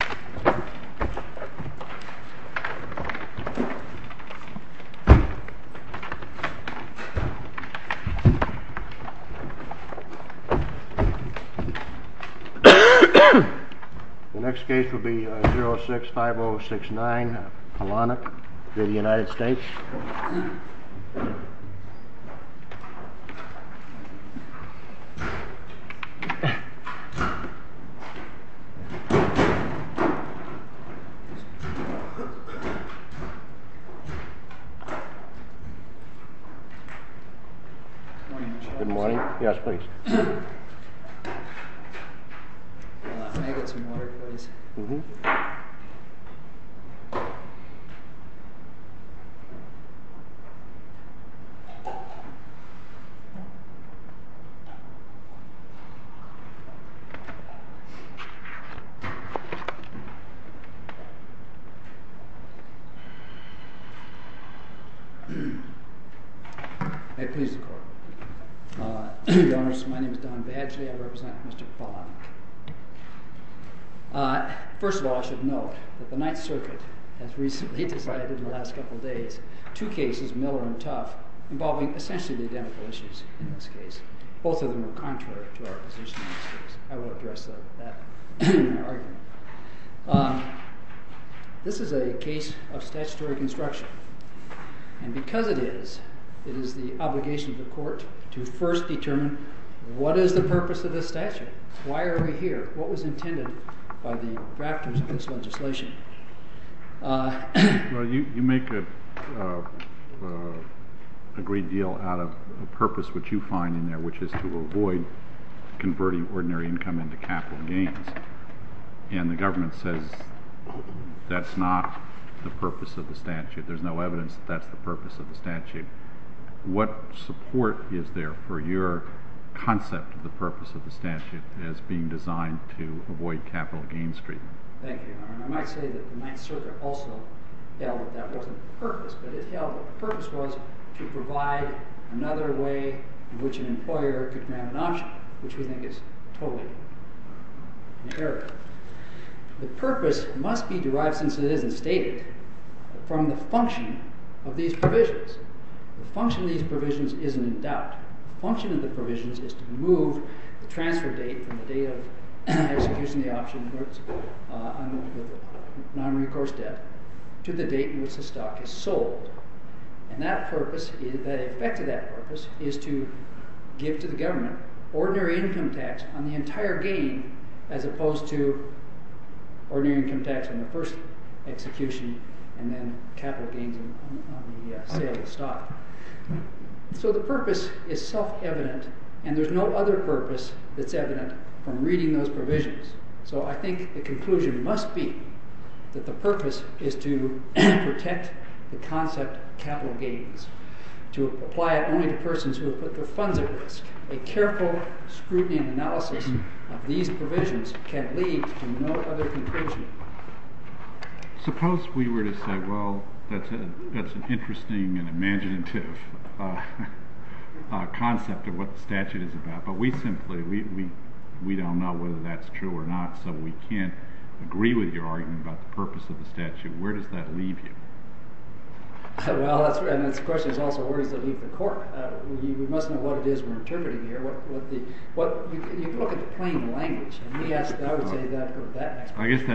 The next case will be 06-5069, Polonik, for the United States. Good morning. Yes, please. May I get some water, please? Mm-hmm. Thank you. May it please the Court. Your Honor, sir, my name is Don Badgley. I represent Mr. Polonik. First of all, I should note that the Ninth Circuit has recently decided in the last couple of days two cases, Miller and Tuff, involving essentially the identical issues in this case. Both of them are contrary to our position in this case. I will address that in my argument. This is a case of statutory construction. And because it is, it is the obligation of the Court to first determine what is the purpose of this statute. Why are we here? What was intended by the drafters of this legislation? Well, you make a great deal out of the purpose which you find in there, which is to avoid converting ordinary income into capital gains. And the government says that's not the purpose of the statute. There's no evidence that that's the purpose of the statute. What support is there for your concept of the purpose of the statute as being designed to avoid capital gains treatment? Thank you, Your Honor. I might say that the Ninth Circuit also held that that wasn't the purpose, but it held that the purpose was to provide another way in which an employer could grant an option, which we think is totally imperative. The purpose must be derived, since it isn't stated, from the function of these provisions. The function of these provisions isn't in doubt. The function of the provisions is to move the transfer date from the date of execution of the option on nonrecourse debt to the date in which the stock is sold. And that purpose, the effect of that purpose is to give to the government ordinary income tax on the entire gain as opposed to ordinary income tax on the first execution and then capital gains on the sale of the stock. So the purpose is self-evident, and there's no other purpose that's evident from reading those provisions. So I think the conclusion must be that the purpose is to protect the concept of capital gains, to apply it only to persons who have put their funds at risk. A careful scrutiny and analysis of these provisions can lead to no other conclusion. Suppose we were to say, well, that's an interesting and imaginative concept of what the statute is about. But we simply don't know whether that's true or not, so we can't agree with your argument about the purpose of the statute. Where does that leave you? Well, and this question is also, where does it leave the court? We must know what it is we're interpreting here. You can look at the plain language. I guess that's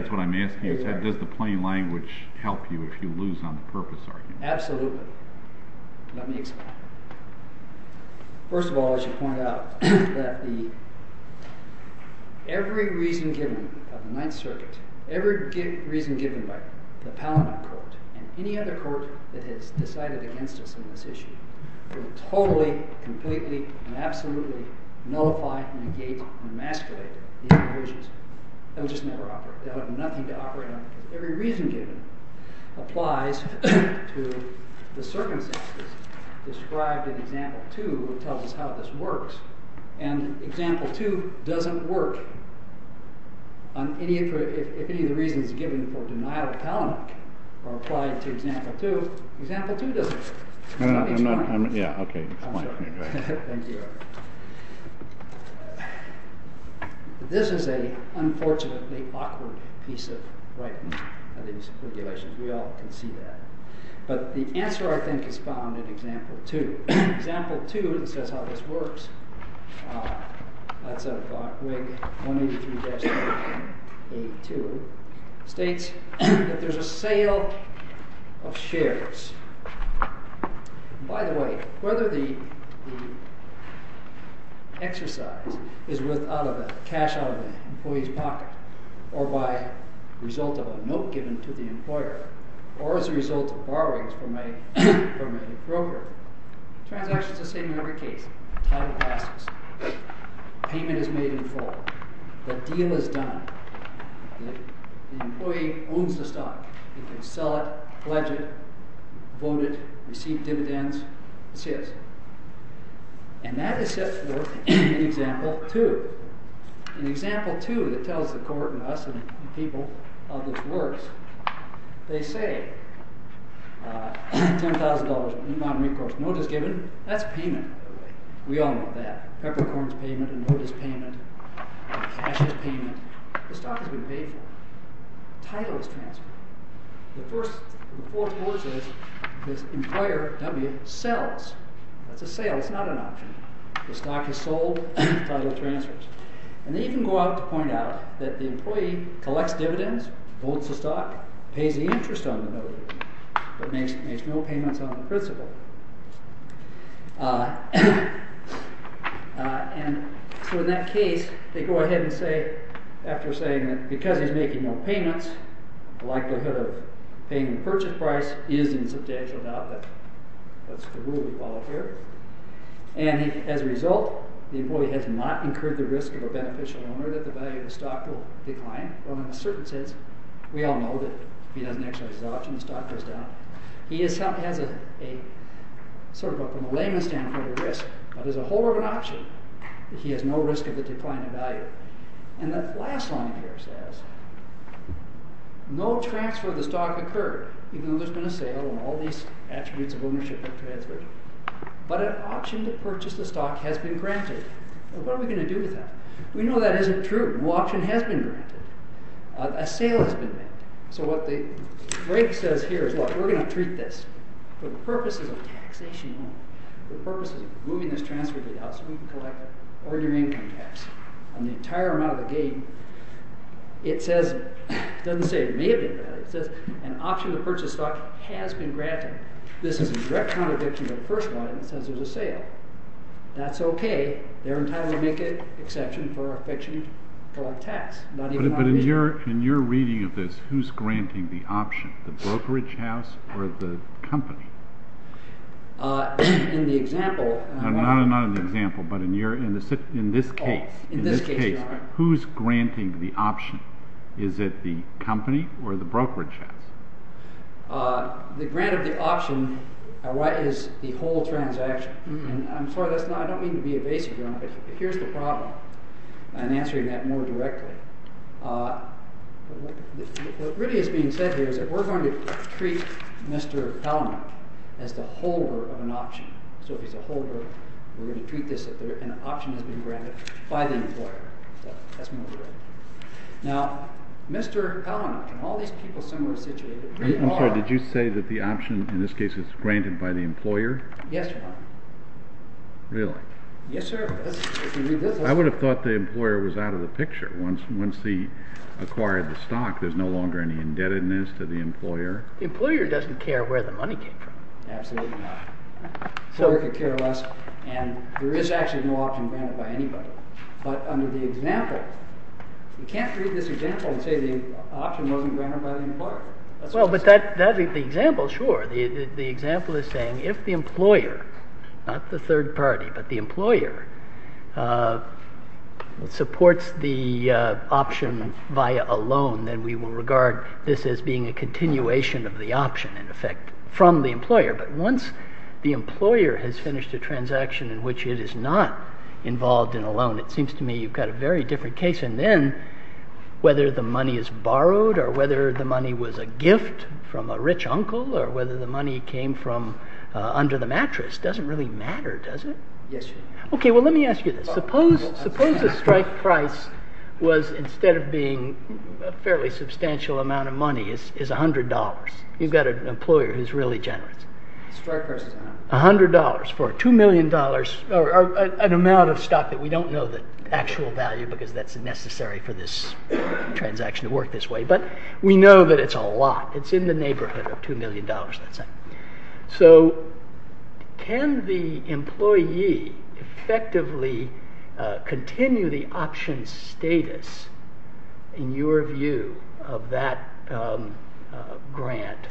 what I'm asking you. Does the plain language help you if you lose on the purpose argument? Absolutely. Let me explain. First of all, I should point out that every reason given of the Ninth Circuit, every reason given by the Palamon Court and any other court that has decided against us on this issue, will totally, completely, and absolutely nullify, negate, and emasculate these provisions. They'll just never operate. They'll have nothing to operate on. Every reason given applies to the circumstances described in Example 2, which tells us how this works. And Example 2 doesn't work. If any of the reasons given for denial of Palamon are applied to Example 2, Example 2 doesn't work. This is an unfortunately awkward piece of writing, these regulations. We all can see that. But the answer, I think, is found in Example 2. In Example 2, it says how this works. That's on Wig 183-182. It states that there's a sale of shares. By the way, whether the exercise is with cash out of an employee's pocket, or by result of a note given to the employer, or as a result of borrowings from a broker, transactions are the same in every case. Payment is made in full. The deal is done. The employee owns the stock. He can sell it, pledge it, vote it, receive dividends. It's his. And that is set forth in Example 2. In Example 2, it tells the court and us, and people, how this works. They say $10,000 in bond recourse, notice given. That's payment, by the way. We all know that. Peppercorn's payment, a notice payment, a cashless payment. The stock has been paid for. Title is transferred. The first, the fourth quote says, this employer, W, sells. That's a sale, it's not an option. The stock is sold, title transfers. And they even go out to point out that the employee collects dividends, holds the stock, pays the interest on the note, but makes no payments on the principal. And so in that case, they go ahead and say, after saying that because he's making no payments, the likelihood of paying the purchase price is in substantial doubt. That's the rule we follow here. And as a result, the employee has not incurred the risk of a beneficial owner that the value of the stock will decline. Well, in a certain sense, we all know that if he doesn't exercise his option, the stock goes down. He has a, sort of from a layman's standpoint, a risk. But as a whole of an option, he has no risk of the decline in value. And the last line here says, no transfer of the stock occurred, even though there's been a sale and all these attributes of ownership have transferred. But an option to purchase the stock has been granted. What are we going to do with that? We know that isn't true. No option has been granted. A sale has been made. So what the break says here is, look, we're going to treat this for the purposes of taxation only, for the purposes of moving this transfer deal out so we can collect ordinary income tax on the entire amount of the gain. It says, it doesn't say it may have been granted. It says an option to purchase the stock has been granted. This is a direct contradiction to the first line that says there's a sale. That's okay. They're entitled to make an exception for our fiction to collect tax. But in your reading of this, who's granting the option? The brokerage house or the company? In the example— No, not in the example, but in this case. In this case, you're right. Who's granting the option? Is it the company or the brokerage house? The grant of the option is the whole transaction. And I'm sorry, I don't mean to be evasive here, but here's the problem. I'm answering that more directly. What really is being said here is that we're going to treat Mr. Palamute as the holder of an option. So if he's a holder, we're going to treat this as an option has been granted by the employer. So that's more direct. Now, Mr. Palamute, can all these people somewhere situated— I'm sorry, did you say that the option in this case is granted by the employer? Yes, Your Honor. Really? Yes, sir. I would have thought the employer was out of the picture once he acquired the stock. There's no longer any indebtedness to the employer. The employer doesn't care where the money came from. Absolutely not. The employer could care less, and there is actually no option granted by anybody. But under the example, you can't read this example and say the option wasn't granted by the employer. Well, but the example, sure. The example is saying if the employer—not the third party, but the employer—supports the option via a loan, then we will regard this as being a continuation of the option, in effect, from the employer. But once the employer has finished a transaction in which it is not involved in a loan, it seems to me you've got a very different case. And then whether the money is borrowed or whether the money was a gift from a rich uncle or whether the money came from under the mattress doesn't really matter, does it? Yes, Your Honor. Okay, well, let me ask you this. Suppose the strike price was, instead of being a fairly substantial amount of money, is $100. You've got an employer who's really generous. The strike price is $100. $100 for $2 million, an amount of stock that we don't know the actual value because that's necessary for this transaction to work this way, but we know that it's a lot. It's in the neighborhood of $2 million, let's say. So can the employee effectively continue the option status, in your view, of that grant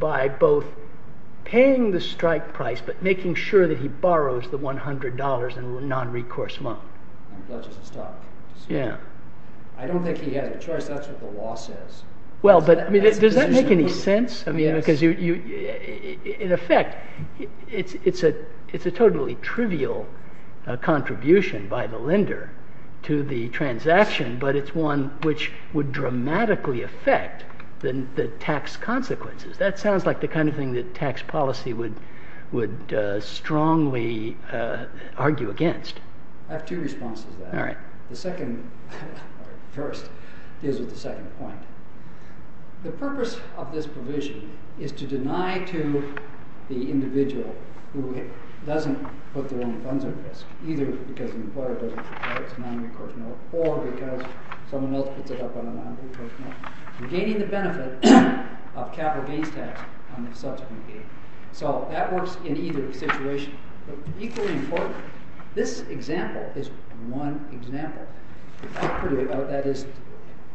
by both paying the strike price but making sure that he borrows the $100 in a non-recourse mode? And pledges his stock. Yeah. I don't think he has a choice. That's what the law says. Well, but does that make any sense? I mean, because in effect, it's a totally trivial contribution by the lender to the transaction, but it's one which would dramatically affect the tax consequences. That sounds like the kind of thing that tax policy would strongly argue against. All right. The second, or first, deals with the second point. The purpose of this provision is to deny to the individual who doesn't put their own funds at risk, either because the employer doesn't require its non-recourse mode, or because someone else puts it up on a non-recourse mode, regaining the benefit of capital gains tax on the subsequent gain. So that works in either situation. Equally important, this example is one example. That is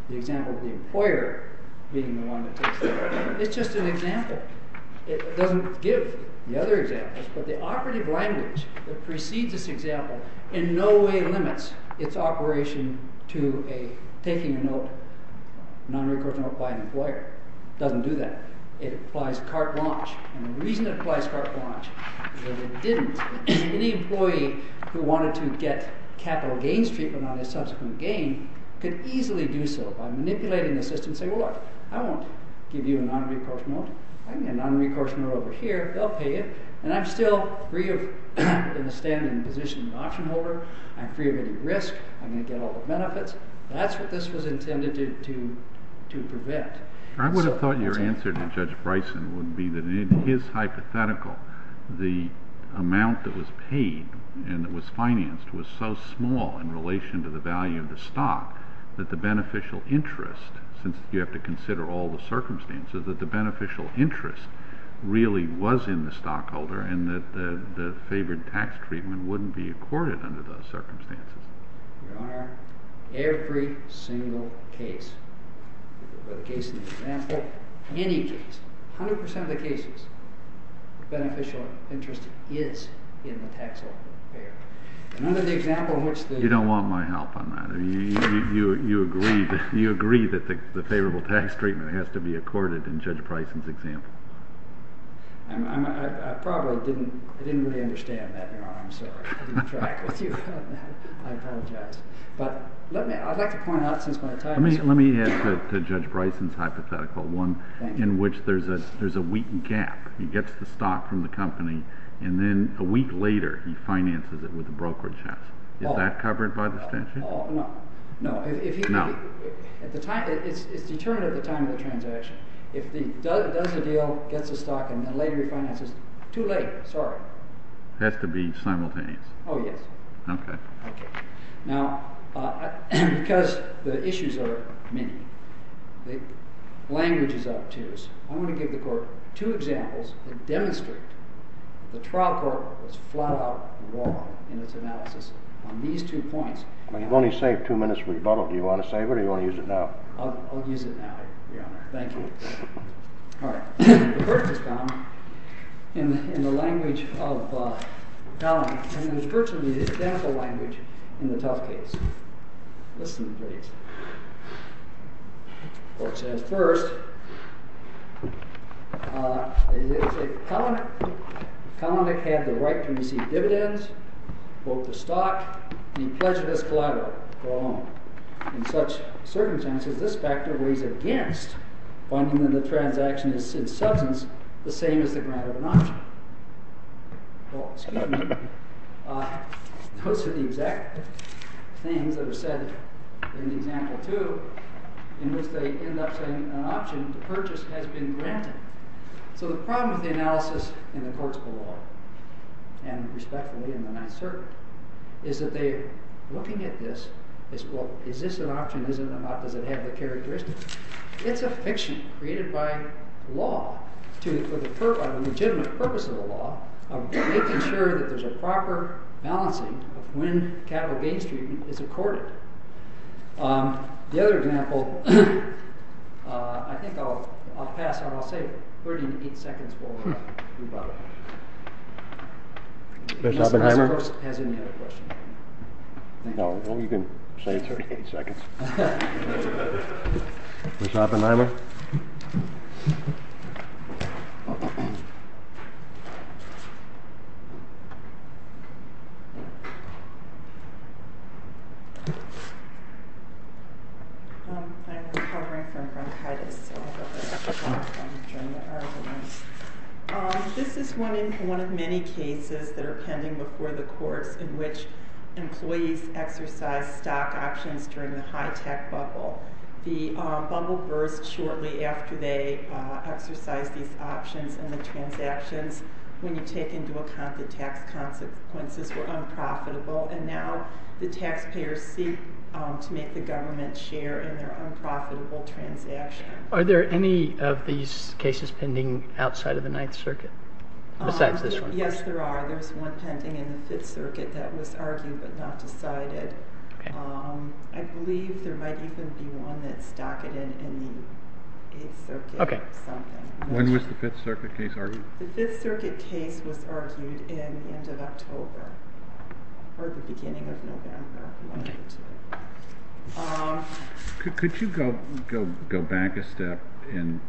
the example of the employer being the one that takes the money. It's just an example. It doesn't give the other examples, but the operative language that precedes this example in no way limits its operation to taking a non-recourse mode by an employer. It doesn't do that. It applies cart launch. And the reason it applies cart launch is that it didn't. Any employee who wanted to get capital gains treatment on a subsequent gain could easily do so by manipulating the system and say, well, look, I won't give you a non-recourse mode. I can get a non-recourse mode over here. They'll pay it. And I'm still free of the standing position of the option holder. I'm free of any risk. I'm going to get all the benefits. That's what this was intended to prevent. I would have thought your answer to Judge Bryson would be that in his hypothetical, the amount that was paid and that was financed was so small in relation to the value of the stock that the beneficial interest, since you have to consider all the circumstances, that the beneficial interest really was in the stockholder and that the favored tax treatment wouldn't be accorded under those circumstances. Your Honor, every single case, or the case in the example, any case, 100% of the cases, the beneficial interest is in the tax holder. Another example in which the... You don't want my help on that. You agree that the favorable tax treatment has to be accorded in Judge Bryson's example. I probably didn't really understand that, Your Honor. I'm sorry. I didn't track with you on that. I apologize. I'd like to point out since my time... Let me add to Judge Bryson's hypothetical one in which there's a weak gap. He gets the stock from the company and then a week later he finances it with the brokerage house. Is that covered by the statute? No. It's determined at the time of the transaction. If he does the deal, gets the stock, and then later he finances it. Too late, sorry. It has to be simultaneous. Oh, yes. Okay. Now, because the issues are many, the language is obtuse. I'm going to give the court two examples that demonstrate the trial court was flat out wrong in its analysis on these two points. You've only saved two minutes for rebuttal. Do you want to save it or do you want to use it now? I'll use it now, Your Honor. Thank you. All right. The court has gone in the language of... and there's virtually the identical language in the tough case. Listen, please. The court says, first, Kalanick had the right to receive dividends, both the stock, and he pledged it as collateral. Wrong. In such circumstances, this factor weighs against finding that the transaction is in substance the same as the grant of an option. Well, excuse me. Those are the exact things that are said in example two in which they end up saying an option to purchase has been granted. So the problem with the analysis in the courts below, and respectfully in the Ninth Circuit, is that they're looking at this as, well, is this an option? Is it or not? Does it have the characteristics? It's a fiction created by law for the legitimate purpose of the law of making sure that there's a proper balancing of when capital gains treatment is accorded. The other example... I think I'll pass on. I'll say 38 seconds before we move on. Mr. Oppenheimer? No, you can say 38 seconds. Mr. Oppenheimer? Okay. I'm recovering from bronchitis. This is one of many cases that are pending before the courts in which employees exercise stock options during the high-tech bubble. The bubble burst shortly after they exercised these options and the transactions. When you take into account the tax consequences were unprofitable, and now the taxpayers seek to make the government share in their unprofitable transaction. Are there any of these cases pending outside of the Ninth Circuit besides this one? Yes, there are. There's one pending in the Fifth Circuit that was argued but not decided. I believe there might even be one that's docketed in the Eighth Circuit or something. When was the Fifth Circuit case argued? The Fifth Circuit case was argued in the end of October or the beginning of November. Could you go back a step in...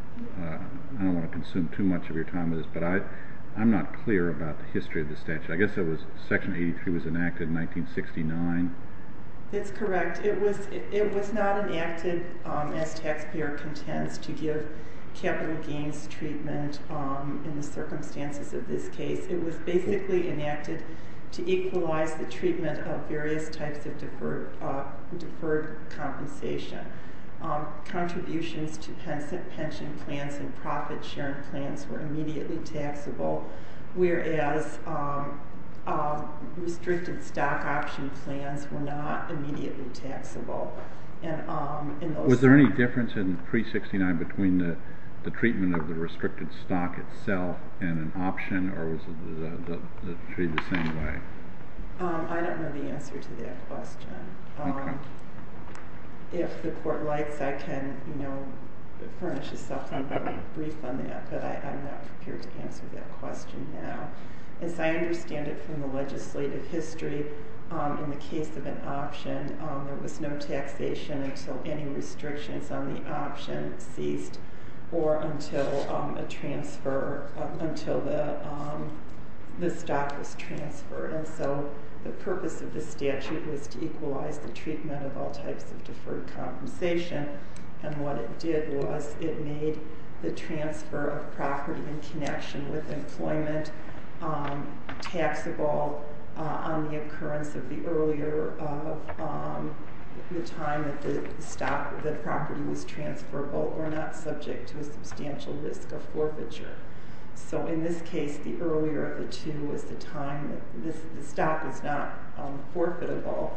I don't want to consume too much of your time with this, but I'm not clear about the history of the statute. I guess Section 83 was enacted in 1969. That's correct. It was not enacted as taxpayer contents to give capital gains treatment in the circumstances of this case. It was basically enacted to equalize the treatment of various types of deferred compensation. Contributions to pension plans and profit-sharing plans were immediately taxable, whereas restricted stock option plans were not immediately taxable. Was there any difference in pre-'69 between the treatment of the restricted stock itself and an option, or was it treated the same way? I don't know the answer to that question. If the Court likes, I can furnish a supplement and make a brief on that, but I'm not prepared to answer that question now. As I understand it from the legislative history, in the case of an option, there was no taxation until any restrictions on the option ceased or until a transfer, until the stock was transferred. And so the purpose of the statute was to equalize the treatment of all types of deferred compensation, and what it did was it made the transfer of property in connection with employment taxable on the occurrence of the earlier of the time that the property was transferable or not subject to a substantial risk of forfeiture. So in this case, the earlier of the two was the time that the stock was not forfeitable,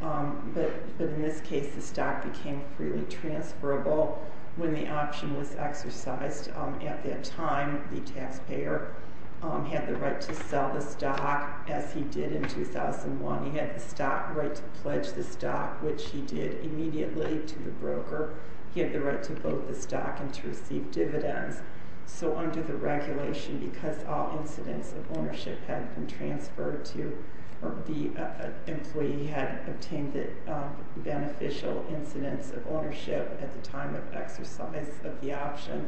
but in this case, the stock became freely transferable when the option was exercised. At that time, the taxpayer had the right to sell the stock, as he did in 2001. He had the stock right to pledge the stock, which he did immediately to the broker. He had the right to vote the stock and to receive dividends. So under the regulation, because all incidents of ownership had been transferred to, or the employee had obtained the beneficial incidents of ownership at the time of exercise of the option,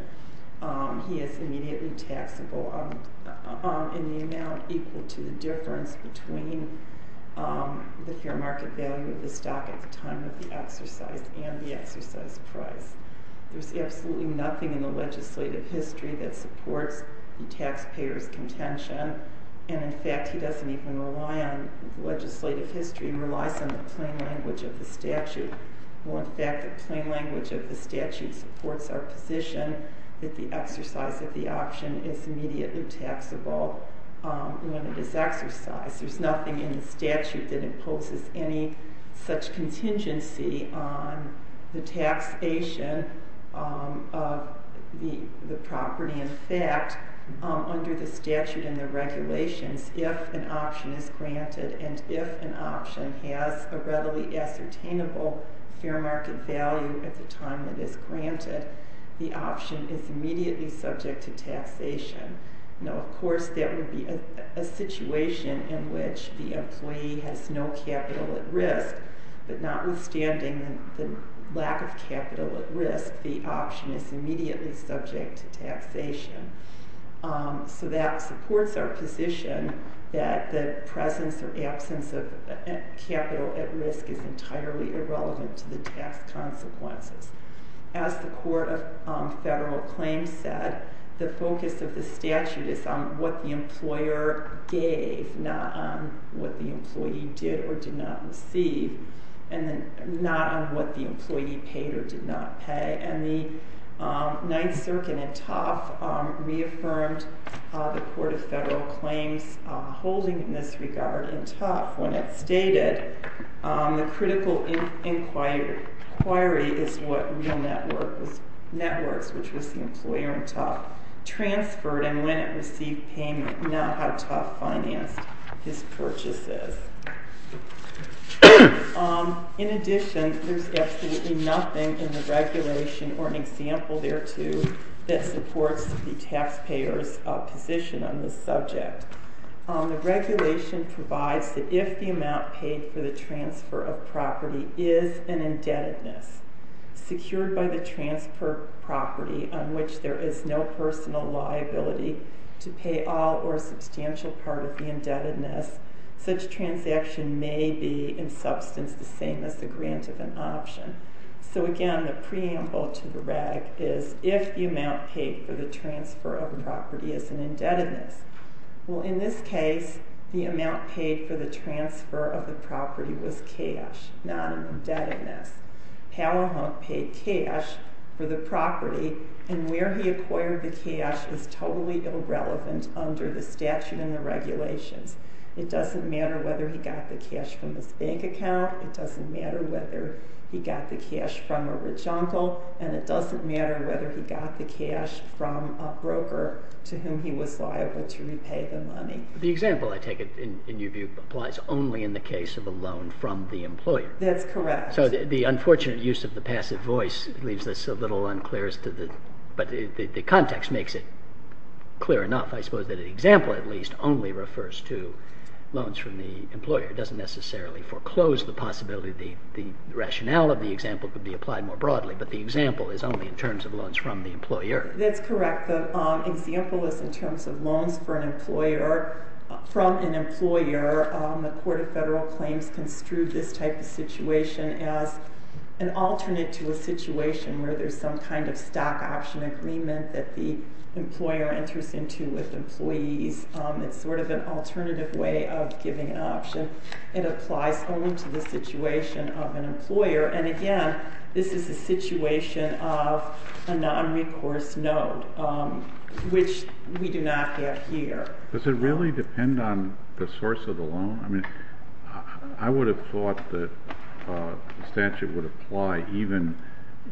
he is immediately taxable in the amount equal to the difference between the fair market value of the stock at the time of the exercise and the exercise price. There's absolutely nothing in the legislative history that supports the taxpayer's contention. And, in fact, he doesn't even rely on legislative history. He relies on the plain language of the statute. Well, in fact, the plain language of the statute supports our position that the exercise of the option is immediately taxable when it is exercised. There's nothing in the statute that imposes any such contingency on the taxation of the property. In fact, under the statute and the regulations, if an option is granted and if an option has a readily ascertainable fair market value at the time it is granted, the option is immediately subject to taxation. Now, of course, that would be a situation in which the employee has no capital at risk, but notwithstanding the lack of capital at risk, the option is immediately subject to taxation. So that supports our position that the presence or absence of capital at risk is entirely irrelevant to the tax consequences. As the Court of Federal Claims said, the focus of the statute is on what the employer gave, not on what the employee did or did not receive, and not on what the employee paid or did not pay. And the Ninth Circuit in Tufts reaffirmed the Court of Federal Claims holding in this regard in Tufts when it stated the critical inquiry is what Real Networks, which was the employer in Tufts, transferred and when it received payment, not how Tufts financed his purchases. In addition, there's absolutely nothing in the regulation or an example thereto that supports the taxpayer's position on this subject. The regulation provides that if the amount paid for the transfer of property is an indebtedness secured by the transfer property on which there is no personal liability to pay all or a substantial part of the indebtedness, such transaction may be in substance the same as the grant of an option. So again, the preamble to the reg is if the amount paid for the transfer of property is an indebtedness. Well, in this case, the amount paid for the transfer of the property was cash, not an indebtedness. Palahunk paid cash for the property, and where he acquired the cash is totally irrelevant under the statute and the regulations. It doesn't matter whether he got the cash from his bank account, it doesn't matter whether he got the cash from a rich uncle, and it doesn't matter whether he got the cash from a broker to whom he was liable to repay the money. The example, I take it, in your view, applies only in the case of a loan from the employer. That's correct. So the unfortunate use of the passive voice leaves this a little unclear, but the context makes it clear enough, I suppose, that the example, at least, only refers to loans from the employer. It doesn't necessarily foreclose the possibility the rationale of the example could be applied more broadly, but the example is only in terms of loans from the employer. That's correct. The example is in terms of loans from an employer. The Court of Federal Claims construed this type of situation as an alternate to a situation where there's some kind of stock option agreement that the employer enters into with employees. It's sort of an alternative way of giving an option. It applies only to the situation of an employer, and again, this is a situation of a non-recourse note, which we do not have here. Does it really depend on the source of the loan? I would have thought the statute would apply even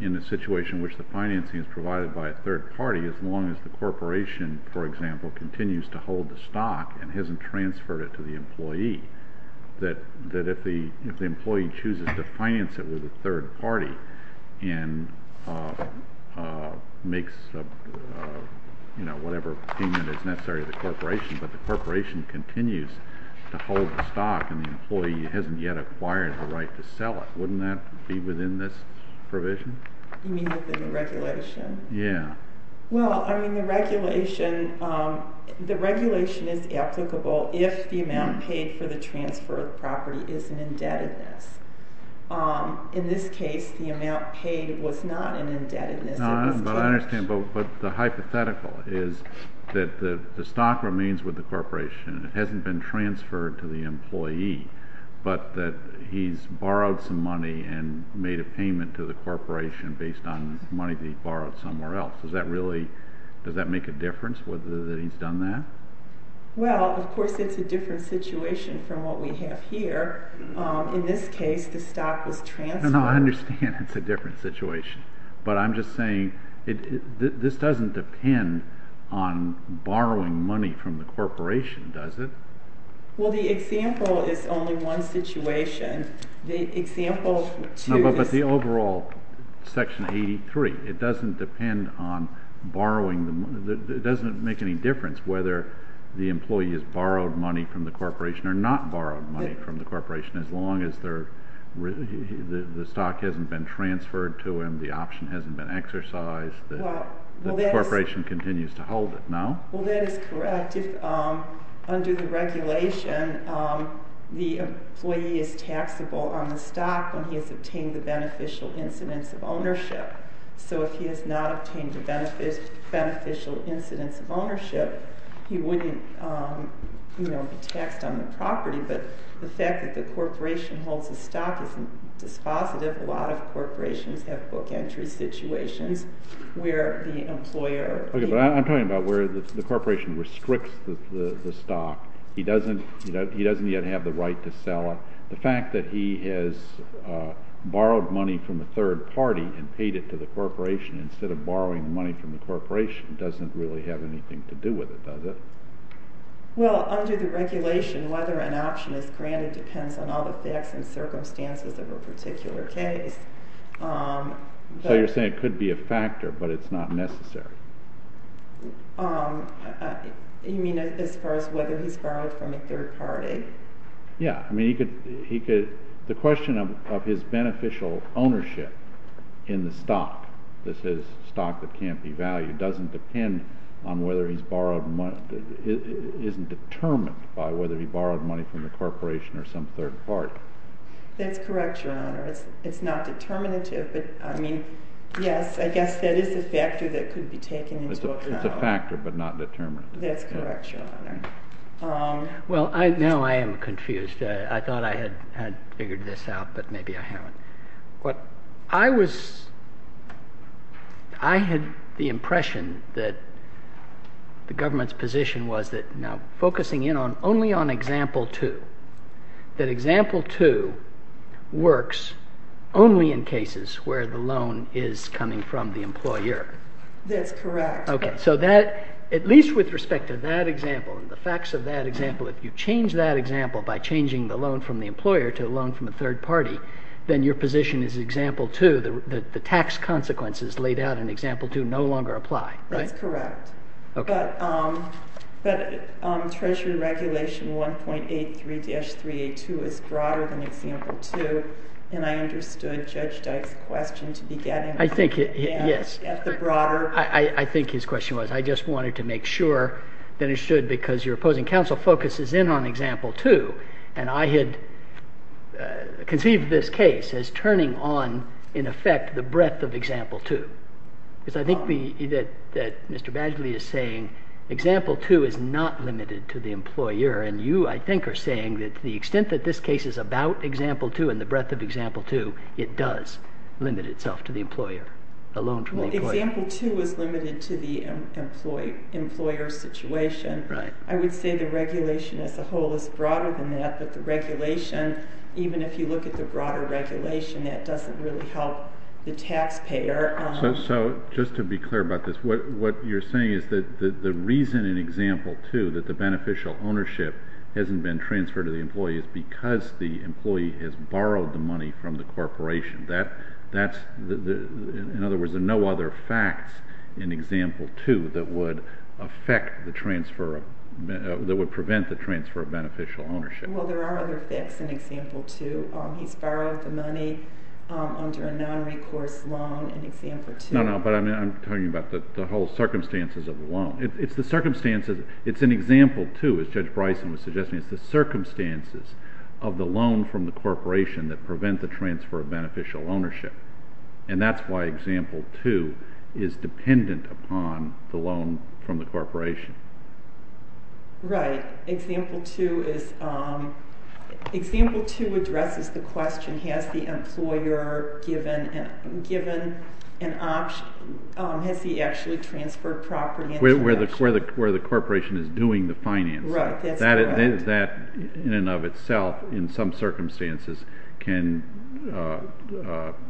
in a situation in which the financing is provided by a third party as long as the corporation, for example, continues to hold the stock and hasn't transferred it to the employee, that if the employee chooses to finance it with a third party and makes whatever payment is necessary to the corporation, but the corporation continues to hold the stock and the employee hasn't yet acquired the right to sell it. Wouldn't that be within this provision? You mean within the regulation? Yeah. Well, I mean, the regulation is applicable if the amount paid for the transfer of property is an indebtedness. In this case, the amount paid was not an indebtedness. But the hypothetical is that the stock remains with the corporation. It hasn't been transferred to the employee, but that he's borrowed some money and made a payment to the corporation based on money that he borrowed somewhere else. Does that make a difference whether he's done that? Well, of course, it's a different situation from what we have here. In this case, the stock was transferred. I understand it's a different situation, but I'm just saying this doesn't depend on borrowing money from the corporation, does it? Well, the example is only one situation. But the overall, Section 83, it doesn't make any difference whether the employee has borrowed money from the corporation or not borrowed money from the corporation as long as the stock hasn't been transferred to him, the option hasn't been exercised, the corporation continues to hold it. No? Well, that is correct. Under the regulation, the employee is taxable on the stock when he has obtained the beneficial incidence of ownership. So if he has not obtained the beneficial incidence of ownership, he wouldn't be taxed on the property. But the fact that the corporation holds the stock isn't dispositive. A lot of corporations have book entry situations where the employer... Okay, but I'm talking about where the corporation restricts the stock. He doesn't yet have the right to sell it. The fact that he has borrowed money from a third party and paid it to the corporation instead of borrowing money from the corporation doesn't really have anything to do with it, does it? Well, under the regulation, whether an option is granted depends on all the facts and circumstances of a particular case. So you're saying it could be a factor, but it's not necessary? You mean as far as whether he's borrowed from a third party? Yeah. I mean, the question of his beneficial ownership in the stock that says stock that can't be valued doesn't depend on whether he's borrowed money... That's correct, Your Honor. It's not determinative, but I mean, yes, I guess that is a factor that could be taken into account. It's a factor, but not determinative. That's correct, Your Honor. Well, now I am confused. I thought I had figured this out, but maybe I haven't. But I had the impression that the government's position was that now focusing in only on example 2, that example 2 works only in cases where the loan is coming from the employer. That's correct. Okay, so at least with respect to that example and the facts of that example, if you change that example by changing the loan from the employer to a loan from a third party, then your position is example 2, that the tax consequences laid out in example 2 no longer apply, right? That's correct. But Treasury Regulation 1.83-382 is broader than example 2, and I understood Judge Dyke's question to be getting at the broader... I think his question was, I just wanted to make sure that it stood because your opposing counsel focuses in on example 2, and I had conceived this case as turning on, in effect, the breadth of example 2. Because I think that Mr. Badgley is saying example 2 is not limited to the employer, and you, I think, are saying that to the extent that this case is about example 2 and the breadth of example 2, it does limit itself to the employer, the loan from the employer. Well, example 2 is limited to the employer situation. Right. I would say the regulation as a whole is broader than that, but the regulation, even if you look at the broader regulation, that doesn't really help the taxpayer. So just to be clear about this, what you're saying is that the reason in example 2 that the beneficial ownership hasn't been transferred to the employee is because the employee has borrowed the money from the corporation. In other words, there are no other facts in example 2 that would prevent the transfer of beneficial ownership. Well, there are other facts in example 2. He's borrowed the money under a non-recourse loan in example 2. No, no, but I'm talking about the whole circumstances of the loan. It's the circumstances. It's in example 2, as Judge Bryson was suggesting. It's the circumstances of the loan from the corporation that prevent the transfer of beneficial ownership, and that's why example 2 is dependent upon the loan from the corporation. Right. But example 2 addresses the question, has the employer given an option? Has he actually transferred property? Where the corporation is doing the financing. Right, that's correct. That in and of itself, in some circumstances, can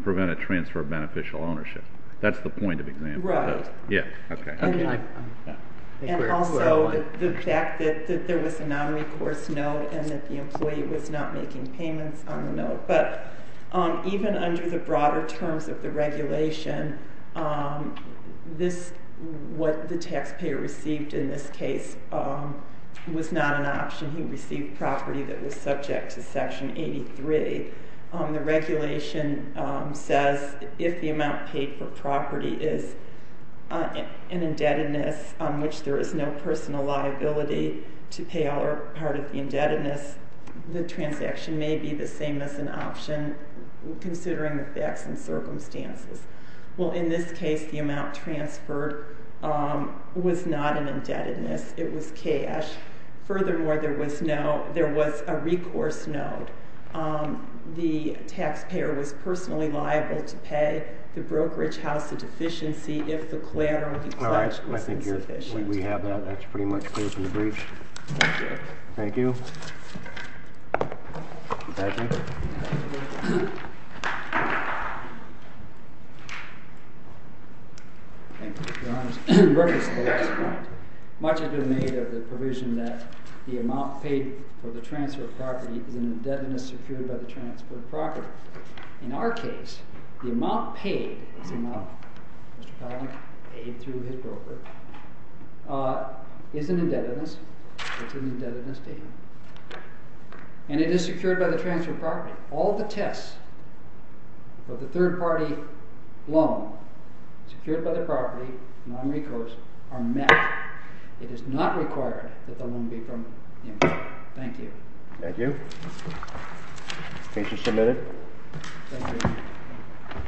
prevent a transfer of beneficial ownership. That's the point of example 2. And also the fact that there was a non-recourse note and that the employee was not making payments on the note. But even under the broader terms of the regulation, what the taxpayer received in this case was not an option. He received property that was subject to Section 83. The regulation says if the amount paid for property is an indebtedness on which there is no personal liability to pay all or part of the indebtedness, the transaction may be the same as an option considering the facts and circumstances. Well, in this case, the amount transferred was not an indebtedness. It was cash. Furthermore, there was a recourse note. The taxpayer was personally liable to pay the brokerage house a deficiency if the collateral he pledged was insufficient. We have that. That's pretty much clear from the briefs. Thank you. Thank you. Thank you, Your Honor. Reference to the last point. Much has been made of the provision that the amount paid for the transfer of property is an indebtedness secured by the transfer of property. In our case, the amount paid is an amount, Mr. Powell, paid through his broker, is an indebtedness. It's an indebtedness payment. And it is secured by the transfer of property. All the tests for the third-party loan secured by the property, non-recourse, are met. It is not required that the loan be from him. Thank you. Thank you. Case is submitted. Thank you.